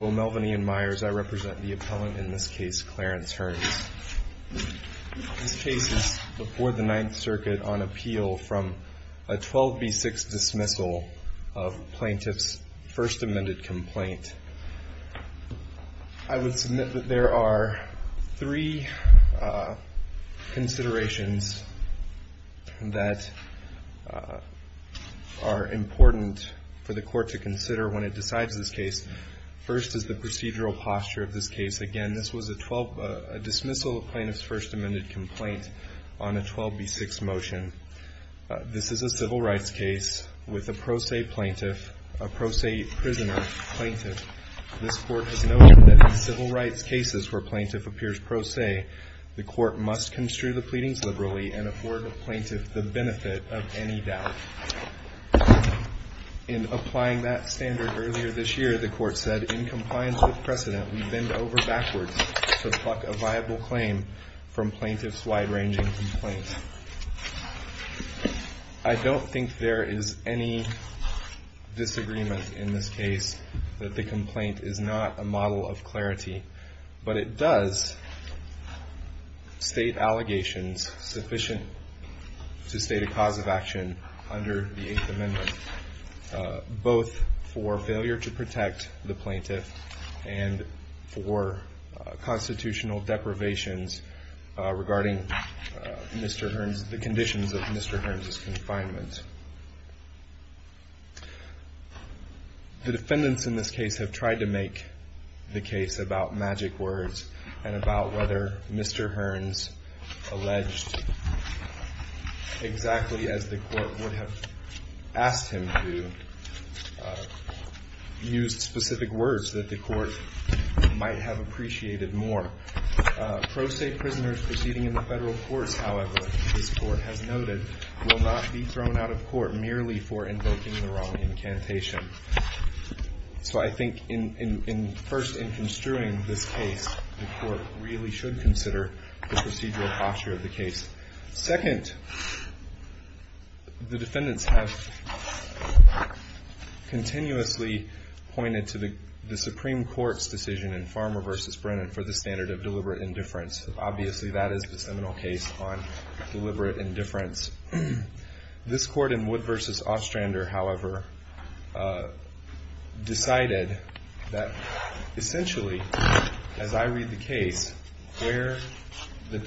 Well, Melvin Ian Myers, I represent the appellant in this case, Clarence Hearns. This case is before the Ninth Circuit on appeal from a 12B6 dismissal of plaintiff's first amended complaint. I would submit that there are three considerations that are important for the court to consider when it decides this case. First is the procedural posture of this case. Again, this was a dismissal of plaintiff's first amended complaint on a 12B6 motion. This is a civil rights case with a pro se prisoner plaintiff. This court has noted that in civil rights cases where plaintiff appears pro se, the court must construe the pleadings liberally and afford the plaintiff the benefit of any doubt. In applying that standard earlier this year, the court said in compliance with precedent, we bend over backwards to pluck a viable claim from plaintiff's wide ranging complaint. I don't think there is any disagreement in this case that the complaint is not a model of clarity, but it does state allegations sufficient to state a cause of action under the Eighth Amendment, both for failure to protect the plaintiff and for constitutional deprivations regarding the conditions of Mr. Hearns' confinement. The defendants in this case have tried to make the case about magic words and about whether Mr. Hearns alleged exactly as the court would have asked him to, used specific words that the court might have appreciated more. Pro se prisoners proceeding in the federal courts, however, this court has noted, will not be thrown out of court merely for invoking the wrong incantation. So I think first in construing this case, the court really should consider the procedural posture of the case. Second, the defendants have continuously pointed to the Supreme Court's decision in Farmer v. Brennan for the standard of deliberate indifference. Obviously that is the seminal case on deliberate indifference. This court in Wood v. Ostrander, however, decided that essentially, as I read the case, where the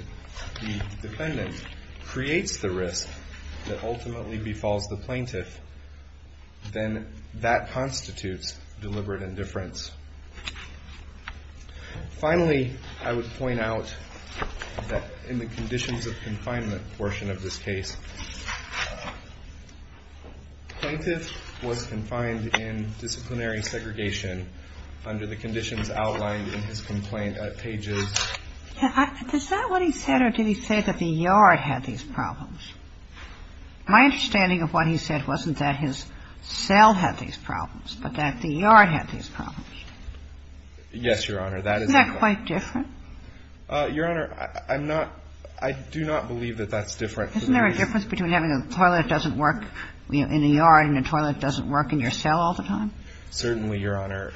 defendant creates the risk that ultimately befalls the plaintiff, then that constitutes deliberate indifference. Finally, I would point out that in the conditions of confinement portion of this case, the plaintiff was confined in disciplinary segregation under the conditions outlined in his complaint at pages. Where did those conditions reach, again, in each case, because the facility was designed in Survivors' Case? That's what he said. Or did he say that the Yard had these problems? My understanding of what he said wasn't that his cell had these problems, but that the Yard had these problems. Yes, Your Honor, that is un-cleared. Isn't that quite. Your Honor, I'm not. I do not believe that that's different. Isn't there a difference between having a toilet that doesn't work in the Yard and a toilet that doesn't work in your cell all the time? Certainly, Your Honor.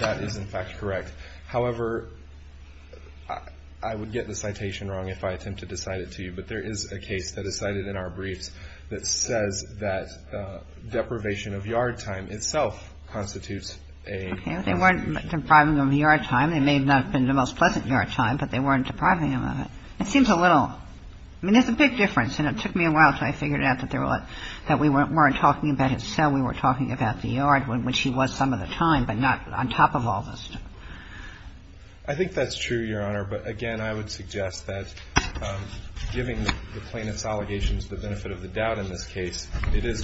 That is, in fact, correct. However, I would get the citation wrong if I attempted to cite it to you, but there is a case that is cited in our briefs that says that deprivation of Yard time itself constitutes a. Okay. They weren't depriving him of Yard time. It may not have been the most pleasant Yard time, but they weren't depriving him of it. It seems a little. I mean, there's a big difference. And it took me a while until I figured out that we weren't talking about his cell. We were talking about the Yard, which he was some of the time, but not on top of all this. I think that's true, Your Honor. But, again, I would suggest that giving the plaintiff's allegations the benefit of the doubt in this case. It is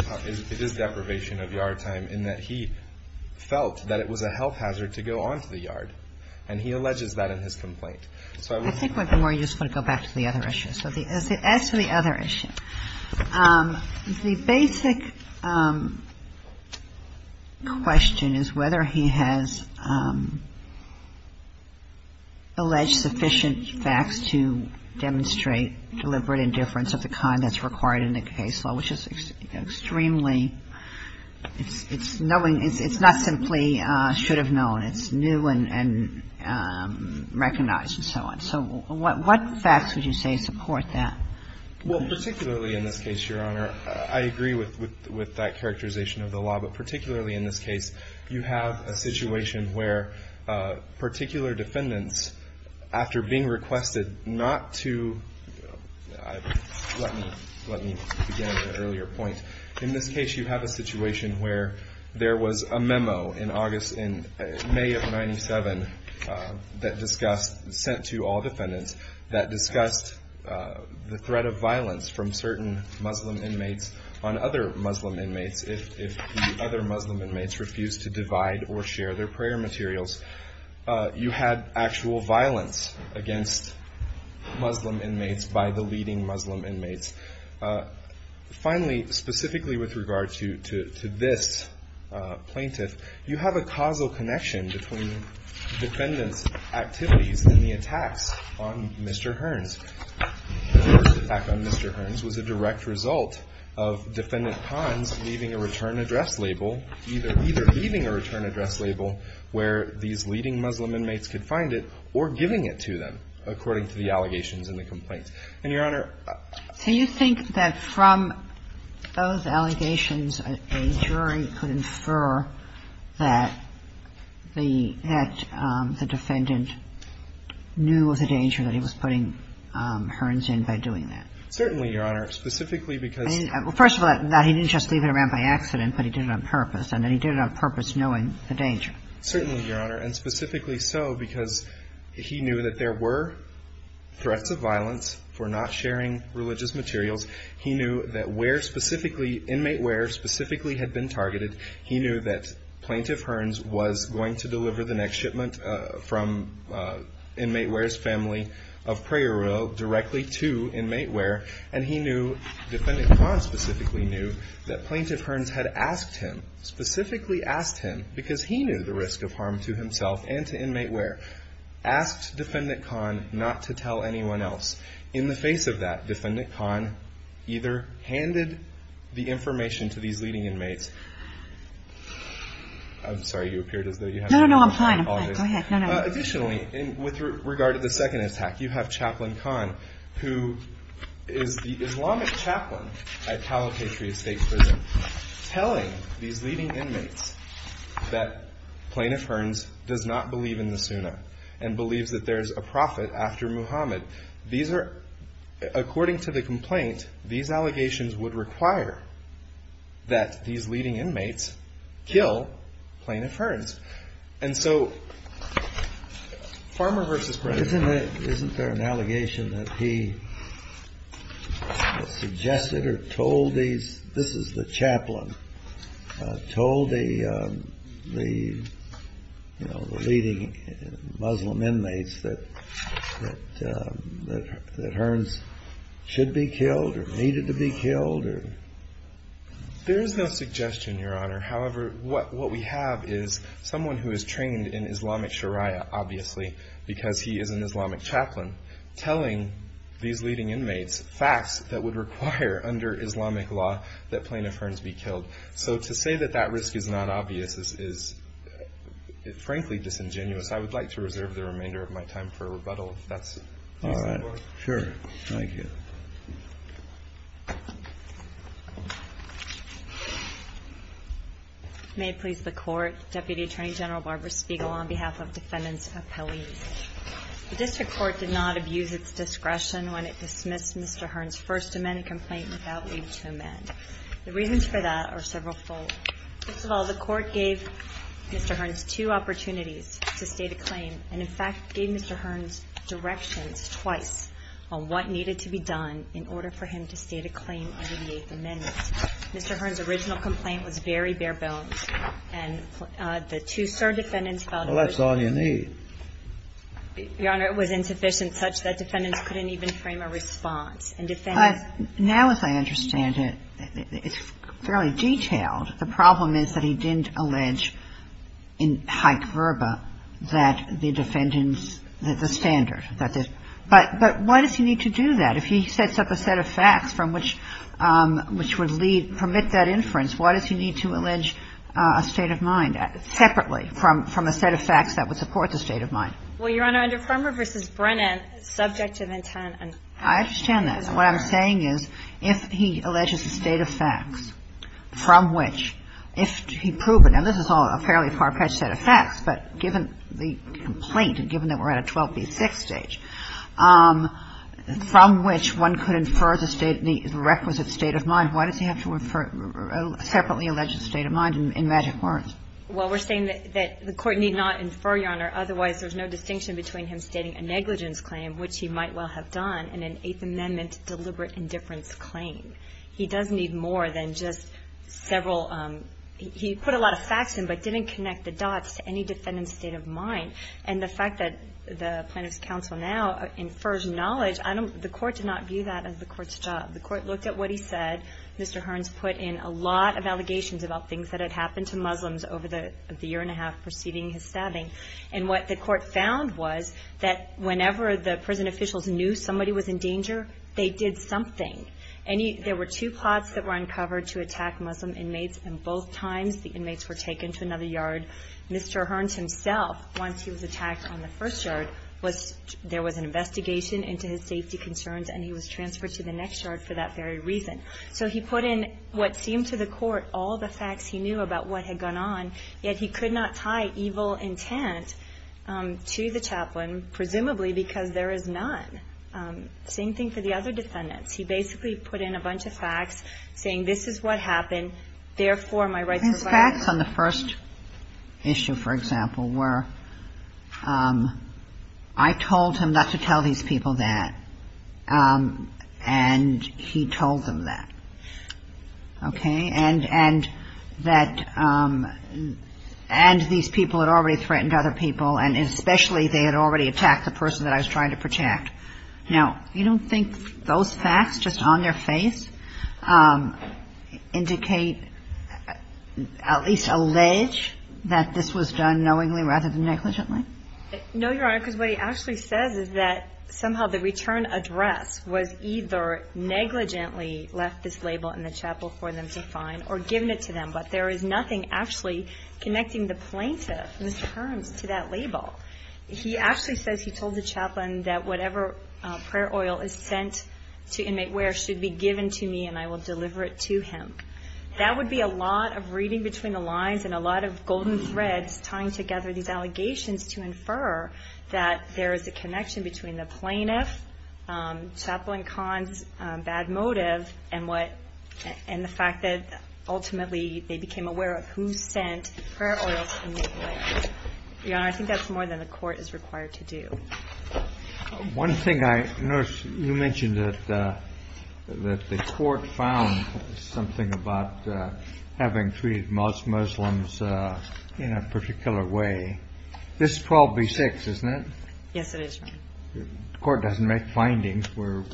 deprivation of Yard time in that he felt that it was a health hazard to go on to the Yard. And he alleges that in his complaint. So I would think that the more you just want to go back to the other issue. So as to the other issue, the basic question is whether he has alleged sufficient facts to demonstrate deliberate indifference of the kind that's required in the case of the law, which is extremely – it's knowing – it's not simply should have known. It's new and recognized and so on. So what facts would you say support that? Well, particularly in this case, Your Honor, I agree with that characterization of the law, but particularly in this case, you have a situation where particular defendants, after being requested not to – let me begin at an earlier point. In this case, you have a situation where there was a memo in May of 1997 that discussed – sent to all defendants – that discussed the threat of violence from certain Muslim inmates on other Muslim inmates if the other Muslim inmates refused to divide or share their prayer materials. You had actual violence against Muslim inmates by the leading Muslim inmates. Finally, specifically with regard to this plaintiff, you have a causal connection between defendants' activities and the attacks on Mr. Hearns. The attack on Mr. Hearns was a direct result of defendant Pons leaving a return address label, either leaving a return address label where these leading Muslim inmates could find it, or giving it to them according to the allegations and the complaints. And, Your Honor – Do you think that from those allegations a jury could infer that the – that the defendant knew of the danger that he was putting Hearns in by doing that? Certainly, Your Honor. Specifically because – Well, first of all, he didn't just leave it around by accident, but he did it on purpose. And then he did it on purpose knowing the danger. Certainly, Your Honor. And specifically so because he knew that there were threats of violence for not sharing religious materials. He knew that where specifically – inmate wear specifically had been targeted. He knew that plaintiff Hearns was going to deliver the next shipment from inmate wear's family of prayer oil directly to inmate wear. And he knew – defendant Pons specifically knew that plaintiff Hearns had asked him, specifically asked him, because he knew the risk of harm to himself and to inmate wear, asked defendant Pons not to tell anyone else. In the face of that, defendant Pons either handed the information to these leading inmates – I'm sorry. You appeared as though you had – No, no, no. I'm fine. I'm fine. Go ahead. No, no. Additionally, with regard to the second attack, you have chaplain Kahn, who is the Islamic chaplain at Caliphate State Prison, telling these leading inmates that plaintiff Hearns does not believe in the Sunnah and believes that there is a prophet after Muhammad. These are – according to the complaint, these allegations would require that these leading inmates kill plaintiff Hearns. And so Farmer v. President – Isn't there an allegation that he suggested or told these – this is the chaplain – told the leading Muslim inmates that Hearns should be killed or needed to be killed? However, what we have is someone who is trained in Islamic sharia, obviously, because he is an Islamic chaplain, telling these leading inmates facts that would require under Islamic law that plaintiff Hearns be killed. So to say that that risk is not obvious is frankly disingenuous. I would like to reserve the remainder of my time for rebuttal, if that's reasonable. Thank you. Thank you. Thank you. May it please the Court. Deputy Attorney General Barbara Spiegel on behalf of Defendants Appellees. The district court did not abuse its discretion when it dismissed Mr. Hearns' first amendment complaint without leave to amend. The reasons for that are severalfold. First of all, the court gave Mr. Hearns two opportunities to state a claim and, in fact, gave Mr. Hearns directions twice on what needed to be done in order for him to state a claim under the Eighth Amendment. Mr. Hearns' original complaint was very bare bones, and the two cert defendants felt it was – Well, that's all you need. Your Honor, it was insufficient such that defendants couldn't even frame a response. And defendants – Now, as I understand it, it's fairly detailed. The problem is that he didn't allege in haec verba that the defendants – that the standard that the – but why does he need to do that? If he sets up a set of facts from which – which would lead – permit that inference, why does he need to allege a state of mind separately from a set of facts that would support the state of mind? Well, Your Honor, under Fremmer v. Brennan, subject to the intent and – I understand that. But what I'm saying is, if he alleges a state of facts from which – if he proved it – and this is all a fairly far-fetched set of facts, but given the complaint and given that we're at a 12b6 stage – from which one could infer the state – the requisite state of mind, why does he have to infer a separately alleged state of mind in magic words? Well, we're saying that the Court need not infer, Your Honor, otherwise there's no distinction between him stating a negligence claim, which he might well have done in an Eighth Amendment deliberate indifference claim. He does need more than just several – he put a lot of facts in, but didn't connect the dots to any defendant's state of mind. And the fact that the Plaintiff's Counsel now infers knowledge, I don't – the Court did not view that as the Court's job. The Court looked at what he said. Mr. Hearns put in a lot of allegations about things that had happened to Muslims over the year and a half preceding his stabbing. And what the Court found was that whenever the prison officials knew somebody was in danger, they did something. Any – there were two plots that were uncovered to attack Muslim inmates, and both times the inmates were taken to another yard. Mr. Hearns himself, once he was attacked on the first yard, was – there was an investigation into his safety concerns, and he was transferred to the next yard for that very reason. So he put in what seemed to the Court all the facts he knew about what had gone on, yet he could not tie evil intent to the chaplain, presumably because there is none. Same thing for the other defendants. He basically put in a bunch of facts, saying this is what happened, therefore my rights were violated. And facts on the first issue, for example, were I told him not to tell these people that, and he told them that, okay? And that – and these people had already threatened other people, and especially they had already attacked the person that I was trying to protect. Now, you don't think those facts just on their face indicate, at least allege, that this was done knowingly rather than negligently? No, Your Honor, because what he actually says is that somehow the return address was either negligently left this label in the chapel for them to find or given it to them, but there is nothing actually connecting the plaintiff's terms to that label. He actually says he told the chaplain that whatever prayer oil is sent to inmate Ware should be given to me and I will deliver it to him. That would be a lot of reading between the lines and a lot of golden threads tying together these allegations to infer that there is a connection between the plaintiff, Chaplain Kahn's bad motive, and what – and the fact that ultimately they became aware of who sent prayer oils to the inmates. Your Honor, I think that's more than the court is required to do. One thing I noticed, you mentioned that the court found something about having treated Muslims in a particular way. This is 12B6, isn't it? Yes, it is. The court doesn't make findings. We're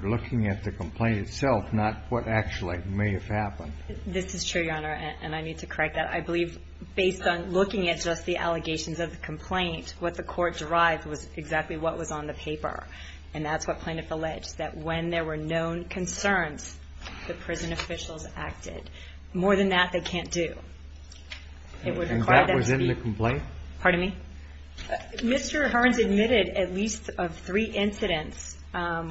looking at the complaint itself, not what actually may have happened. This is true, Your Honor, and I need to correct that. I believe based on looking at just the allegations of the complaint, what the court derived was exactly what was on the paper, and that's what plaintiff alleged, that when there were known concerns, the prison officials acted. More than that, they can't do. And that was in the complaint? Pardon me? Mr. Hearns admitted at least of three incidents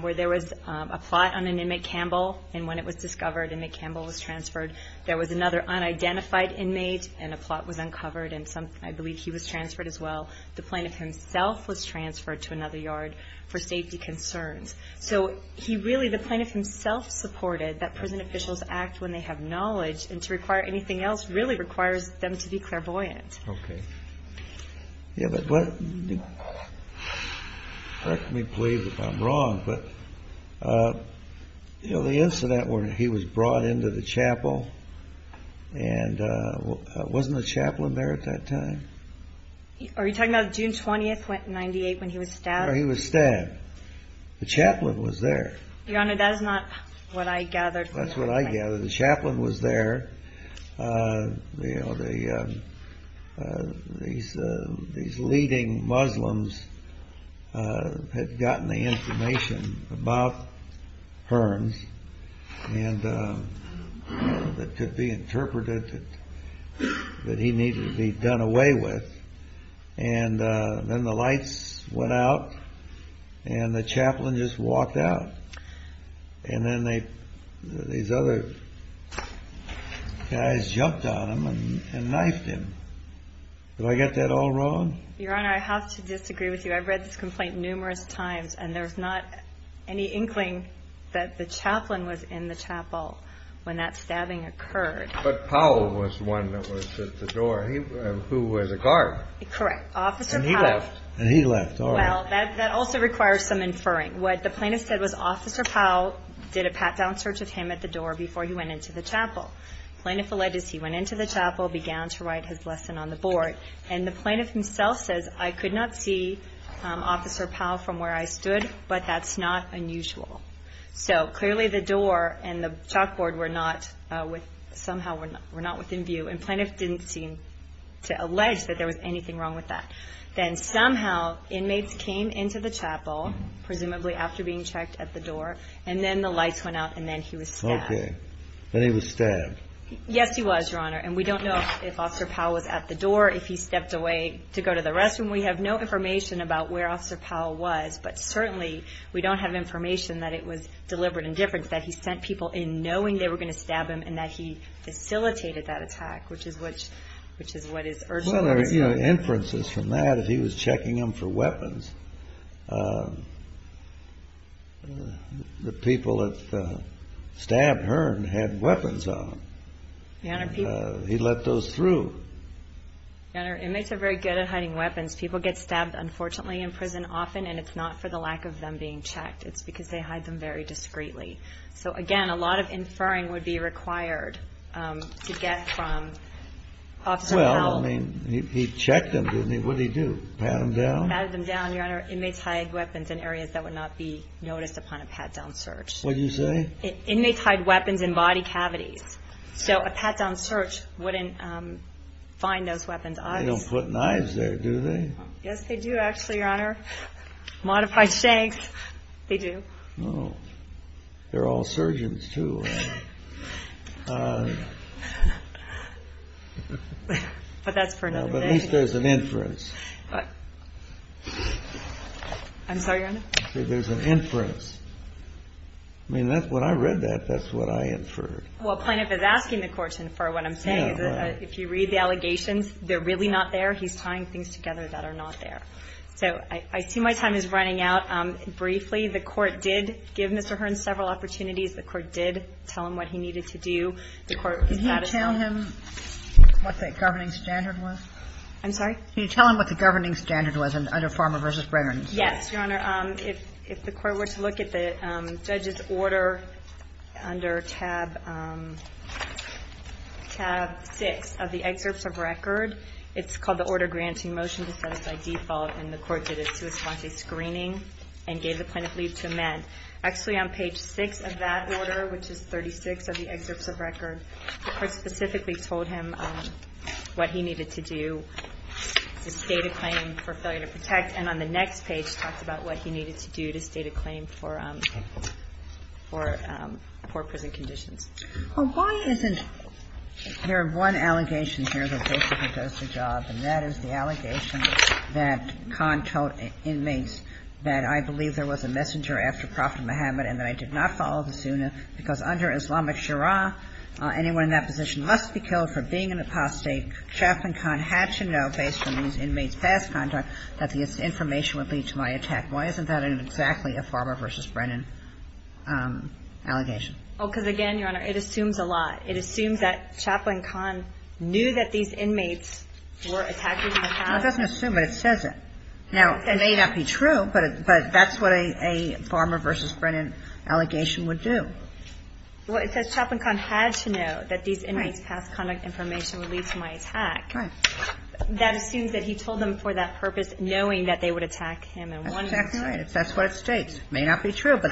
where there was a plot on an inmate Campbell, and when it was discovered an inmate Campbell was transferred, there was another unidentified inmate, and a plot was uncovered, and I believe he was transferred as well. The plaintiff himself was transferred to another yard for safety concerns. So he really – the plaintiff himself supported that prison officials act when they have knowledge, and to require anything else really requires them to be clairvoyant. Okay. Yeah, but what – correct me, please, if I'm wrong, but, you know, the incident where he was brought into the chapel, and wasn't the chaplain there at that time? Are you talking about June 20th, 1998, when he was stabbed? No, he was stabbed. The chaplain was there. Your Honor, that is not what I gathered from the complaint. That's what I gathered. The chaplain was there. These leading Muslims had gotten the information about Hearns that could be interpreted that he needed to be done away with, and then the lights went out, and the chaplain just walked out, and then these other guys jumped on him and knifed him. Did I get that all wrong? Your Honor, I have to disagree with you. I've read this complaint numerous times, and there's not any inkling that the chaplain was in the chapel when that stabbing occurred. But Powell was the one that was at the door, who was a guard. Correct. Officer Powell. And he left. Well, that also requires some inferring. What the plaintiff said was Officer Powell did a pat-down search of him at the door before he went into the chapel. Plaintiff alleged he went into the chapel, began to write his lesson on the board, and the plaintiff himself says, I could not see Officer Powell from where I stood, but that's not unusual. So clearly the door and the chalkboard were not within view, and plaintiff didn't seem to allege that there was anything wrong with that. Then somehow inmates came into the chapel, presumably after being checked at the door, and then the lights went out, and then he was stabbed. Okay. Then he was stabbed. Yes, he was, Your Honor, and we don't know if Officer Powell was at the door, if he stepped away to go to the restroom. We have no information about where Officer Powell was, but certainly we don't have information that it was deliberate indifference, that he sent people in knowing they were going to stab him and that he facilitated that attack, which is what is urgent. Well, there are inferences from that. If he was checking them for weapons, the people that stabbed her had weapons on them. He let those through. Your Honor, inmates are very good at hiding weapons. People get stabbed, unfortunately, in prison often, and it's not for the lack of them being checked. It's because they hide them very discreetly. Well, I mean, he checked them, didn't he? What did he do? Pat them down? Pat them down, Your Honor. Inmates hide weapons in areas that would not be noticed upon a pat-down search. What did you say? Inmates hide weapons in body cavities, so a pat-down search wouldn't find those weapons. They don't put knives there, do they? Yes, they do, actually, Your Honor. Modified shanks, they do. They're all surgeons, too. But that's for another day. At least there's an inference. I'm sorry, Your Honor? There's an inference. I mean, when I read that, that's what I inferred. Well, Plaintiff is asking the Court to infer what I'm saying. If you read the allegations, they're really not there. He's tying things together that are not there. So I see my time is running out. That's all I have for you today. I'm going to briefly. The Court did give Mr. Hearne several opportunities. The Court did tell him what he needed to do. The Court was satisfied. Could you tell him what the governing standard was? I'm sorry? Could you tell him what the governing standard was under Farmer v. Breggerns? Yes, Your Honor. If the Court were to look at the judge's order under tab six of the excerpts of record, it's called the Order Granting Motion to Set Aside Default, and the Court did a suicide screening and gave the plaintiff leave to amend. Actually, on page six of that order, which is 36 of the excerpts of record, the Court specifically told him what he needed to do to state a claim for failure to protect, and on the next page talks about what he needed to do to state a claim for poor prison conditions. Well, why isn't there one allegation here that basically does the job, and that is the allegation that Khan told inmates that I believe there was a messenger after Prophet Muhammad and that I did not follow the sunnah, because under Islamic shura, anyone in that position must be killed for being an apostate. Chaplain Khan had to know, based on these inmates' past conduct, that this information would lead to my attack. Why isn't that exactly a Farmer v. Brennan allegation? Oh, because, again, Your Honor, it assumes a lot. It assumes that Chaplain Khan knew that these inmates were attacked in the past. No, it doesn't assume it. It says it. Now, it may not be true, but that's what a Farmer v. Brennan allegation would do. Well, it says Chaplain Khan had to know that these inmates' past conduct information would lead to my attack. Right. That assumes that he told them for that purpose, knowing that they would attack him in one way or another. That's right. That's what it states. It may not be true, but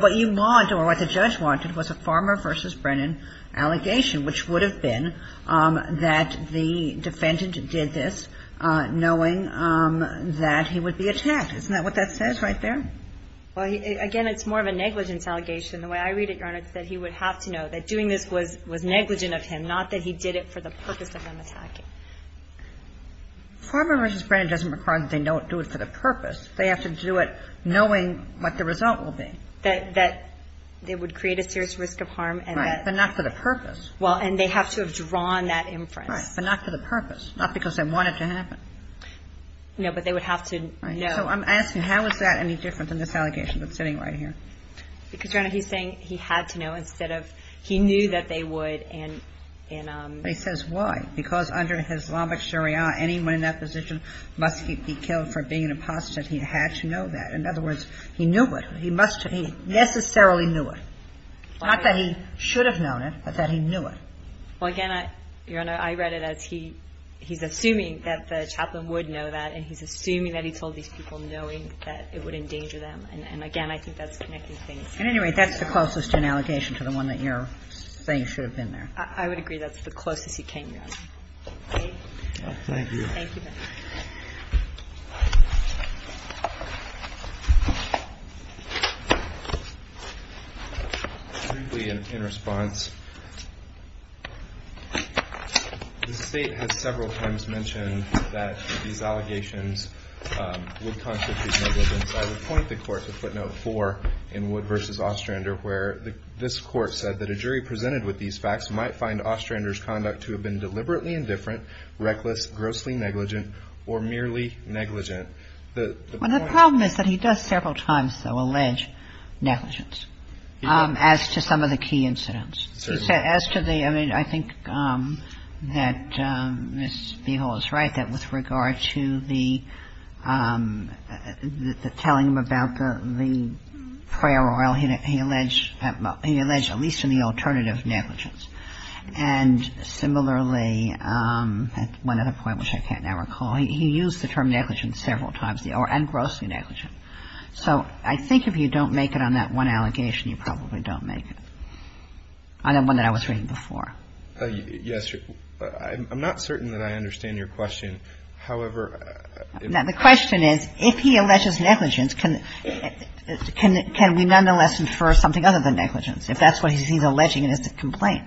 what you want or what the judge wanted was a Farmer v. Brennan allegation, which would have been that the defendant did this knowing that he would be attacked. Isn't that what that says right there? Well, again, it's more of a negligence allegation. The way I read it, Your Honor, it's that he would have to know that doing this was negligent of him, not that he did it for the purpose of them attacking. Farmer v. Brennan doesn't require that they don't do it for the purpose. They have to do it knowing what the result will be. That they would create a serious risk of harm. Right. But not for the purpose. Well, and they have to have drawn that inference. Right. But not for the purpose. Not because they want it to happen. No, but they would have to know. So I'm asking, how is that any different than this allegation that's sitting right here? Because, Your Honor, he's saying he had to know instead of he knew that they would and in a ---- But he says why. Because under Islamic Sharia, anyone in that position must be killed for being an apostate. He had to know that. In other words, he knew it. He must have. He necessarily knew it. Not that he should have known it, but that he knew it. Well, again, Your Honor, I read it as he's assuming that the chaplain would know that and he's assuming that he told these people knowing that it would endanger them. And, again, I think that's connecting things. At any rate, that's the closest in allegation to the one that you're saying should have been there. I would agree that's the closest he came, Your Honor. Thank you. Thank you. Briefly, in response, the State has several times mentioned that these allegations would constitute negligence. I would point the Court to footnote 4 in Wood v. Ostrander where this Court said that a jury presented with these facts might find Ostrander's conduct to have been negligent or merely negligent. Well, the problem is that he does several times, though, allege negligence as to some of the key incidents. Certainly. As to the – I mean, I think that Ms. Beevill is right that with regard to the telling them about the prayer oil, he alleged at least in the alternative negligence. And similarly, at one other point, which I can't now recall, he used the term negligence several times, and grossly negligent. So I think if you don't make it on that one allegation, you probably don't make it, on the one that I was reading before. Yes. I'm not certain that I understand your question. However, if the question is if he alleges negligence, can we nonetheless infer something other than negligence? If that's what he's alleging in his complaint.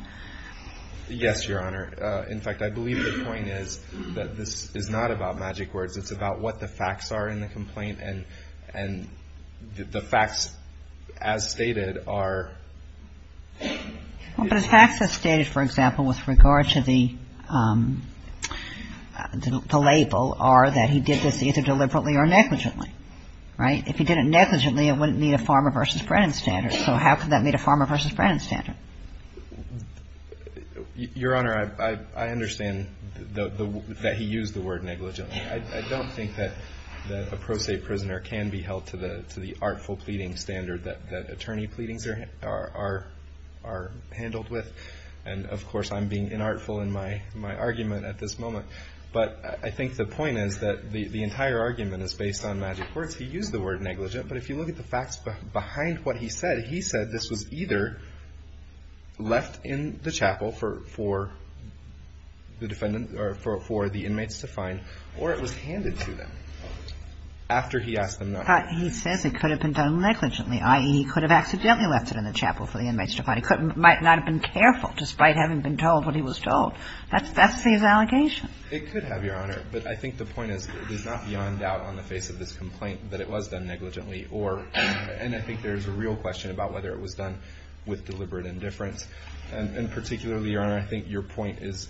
Yes, Your Honor. In fact, I believe the point is that this is not about magic words. It's about what the facts are in the complaint. And the facts as stated are – Well, but the facts as stated, for example, with regard to the label are that he did this either deliberately or negligently. Right? If he did it negligently, it wouldn't meet a Farmer v. Brennan standard. So how could that meet a Farmer v. Brennan standard? Your Honor, I understand that he used the word negligent. I don't think that a pro se prisoner can be held to the artful pleading standard that attorney pleadings are handled with. And, of course, I'm being inartful in my argument at this moment. But I think the point is that the entire argument is based on magic words. He used the word negligent. But if you look at the facts behind what he said, he said this was either left in the chapel for the defendant or for the inmates to find or it was handed to them after he asked them not to. But he says it could have been done negligently, i.e., he could have accidentally left it in the chapel for the inmates to find. He might not have been careful despite having been told what he was told. That's his allegation. It could have, Your Honor. But I think the point is it is not beyond doubt on the face of this complaint that it was done negligently. And I think there's a real question about whether it was done with deliberate indifference. And particularly, Your Honor, I think your point is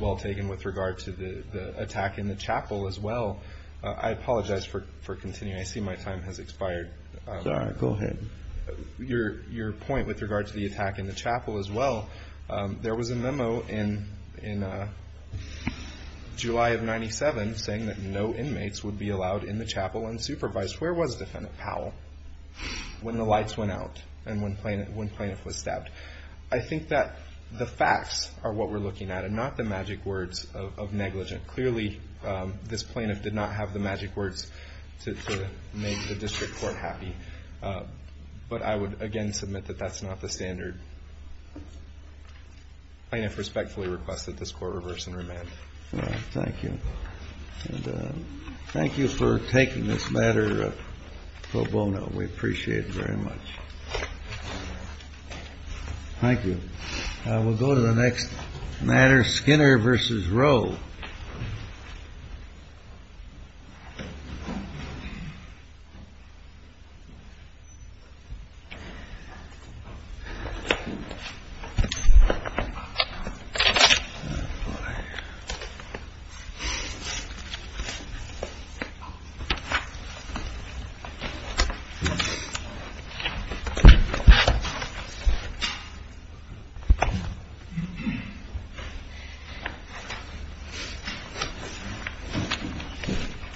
well taken with regard to the attack in the chapel as well. I apologize for continuing. I see my time has expired. Sorry, go ahead. Your point with regard to the attack in the chapel as well, there was a memo in July of 1997 saying that no inmates would be allowed in the chapel unsupervised. Where was Defendant Powell when the lights went out and when the plaintiff was stabbed? I think that the facts are what we're looking at and not the magic words of negligent. Clearly, this plaintiff did not have the magic words to make the district court happy. But I would again submit that that's not the standard. Thank you. And thank you for taking this matter pro bono. We appreciate it very much. Thank you. We'll go to the next matter, Skinner v. Roe. Thank you, Your Honor. Thank you.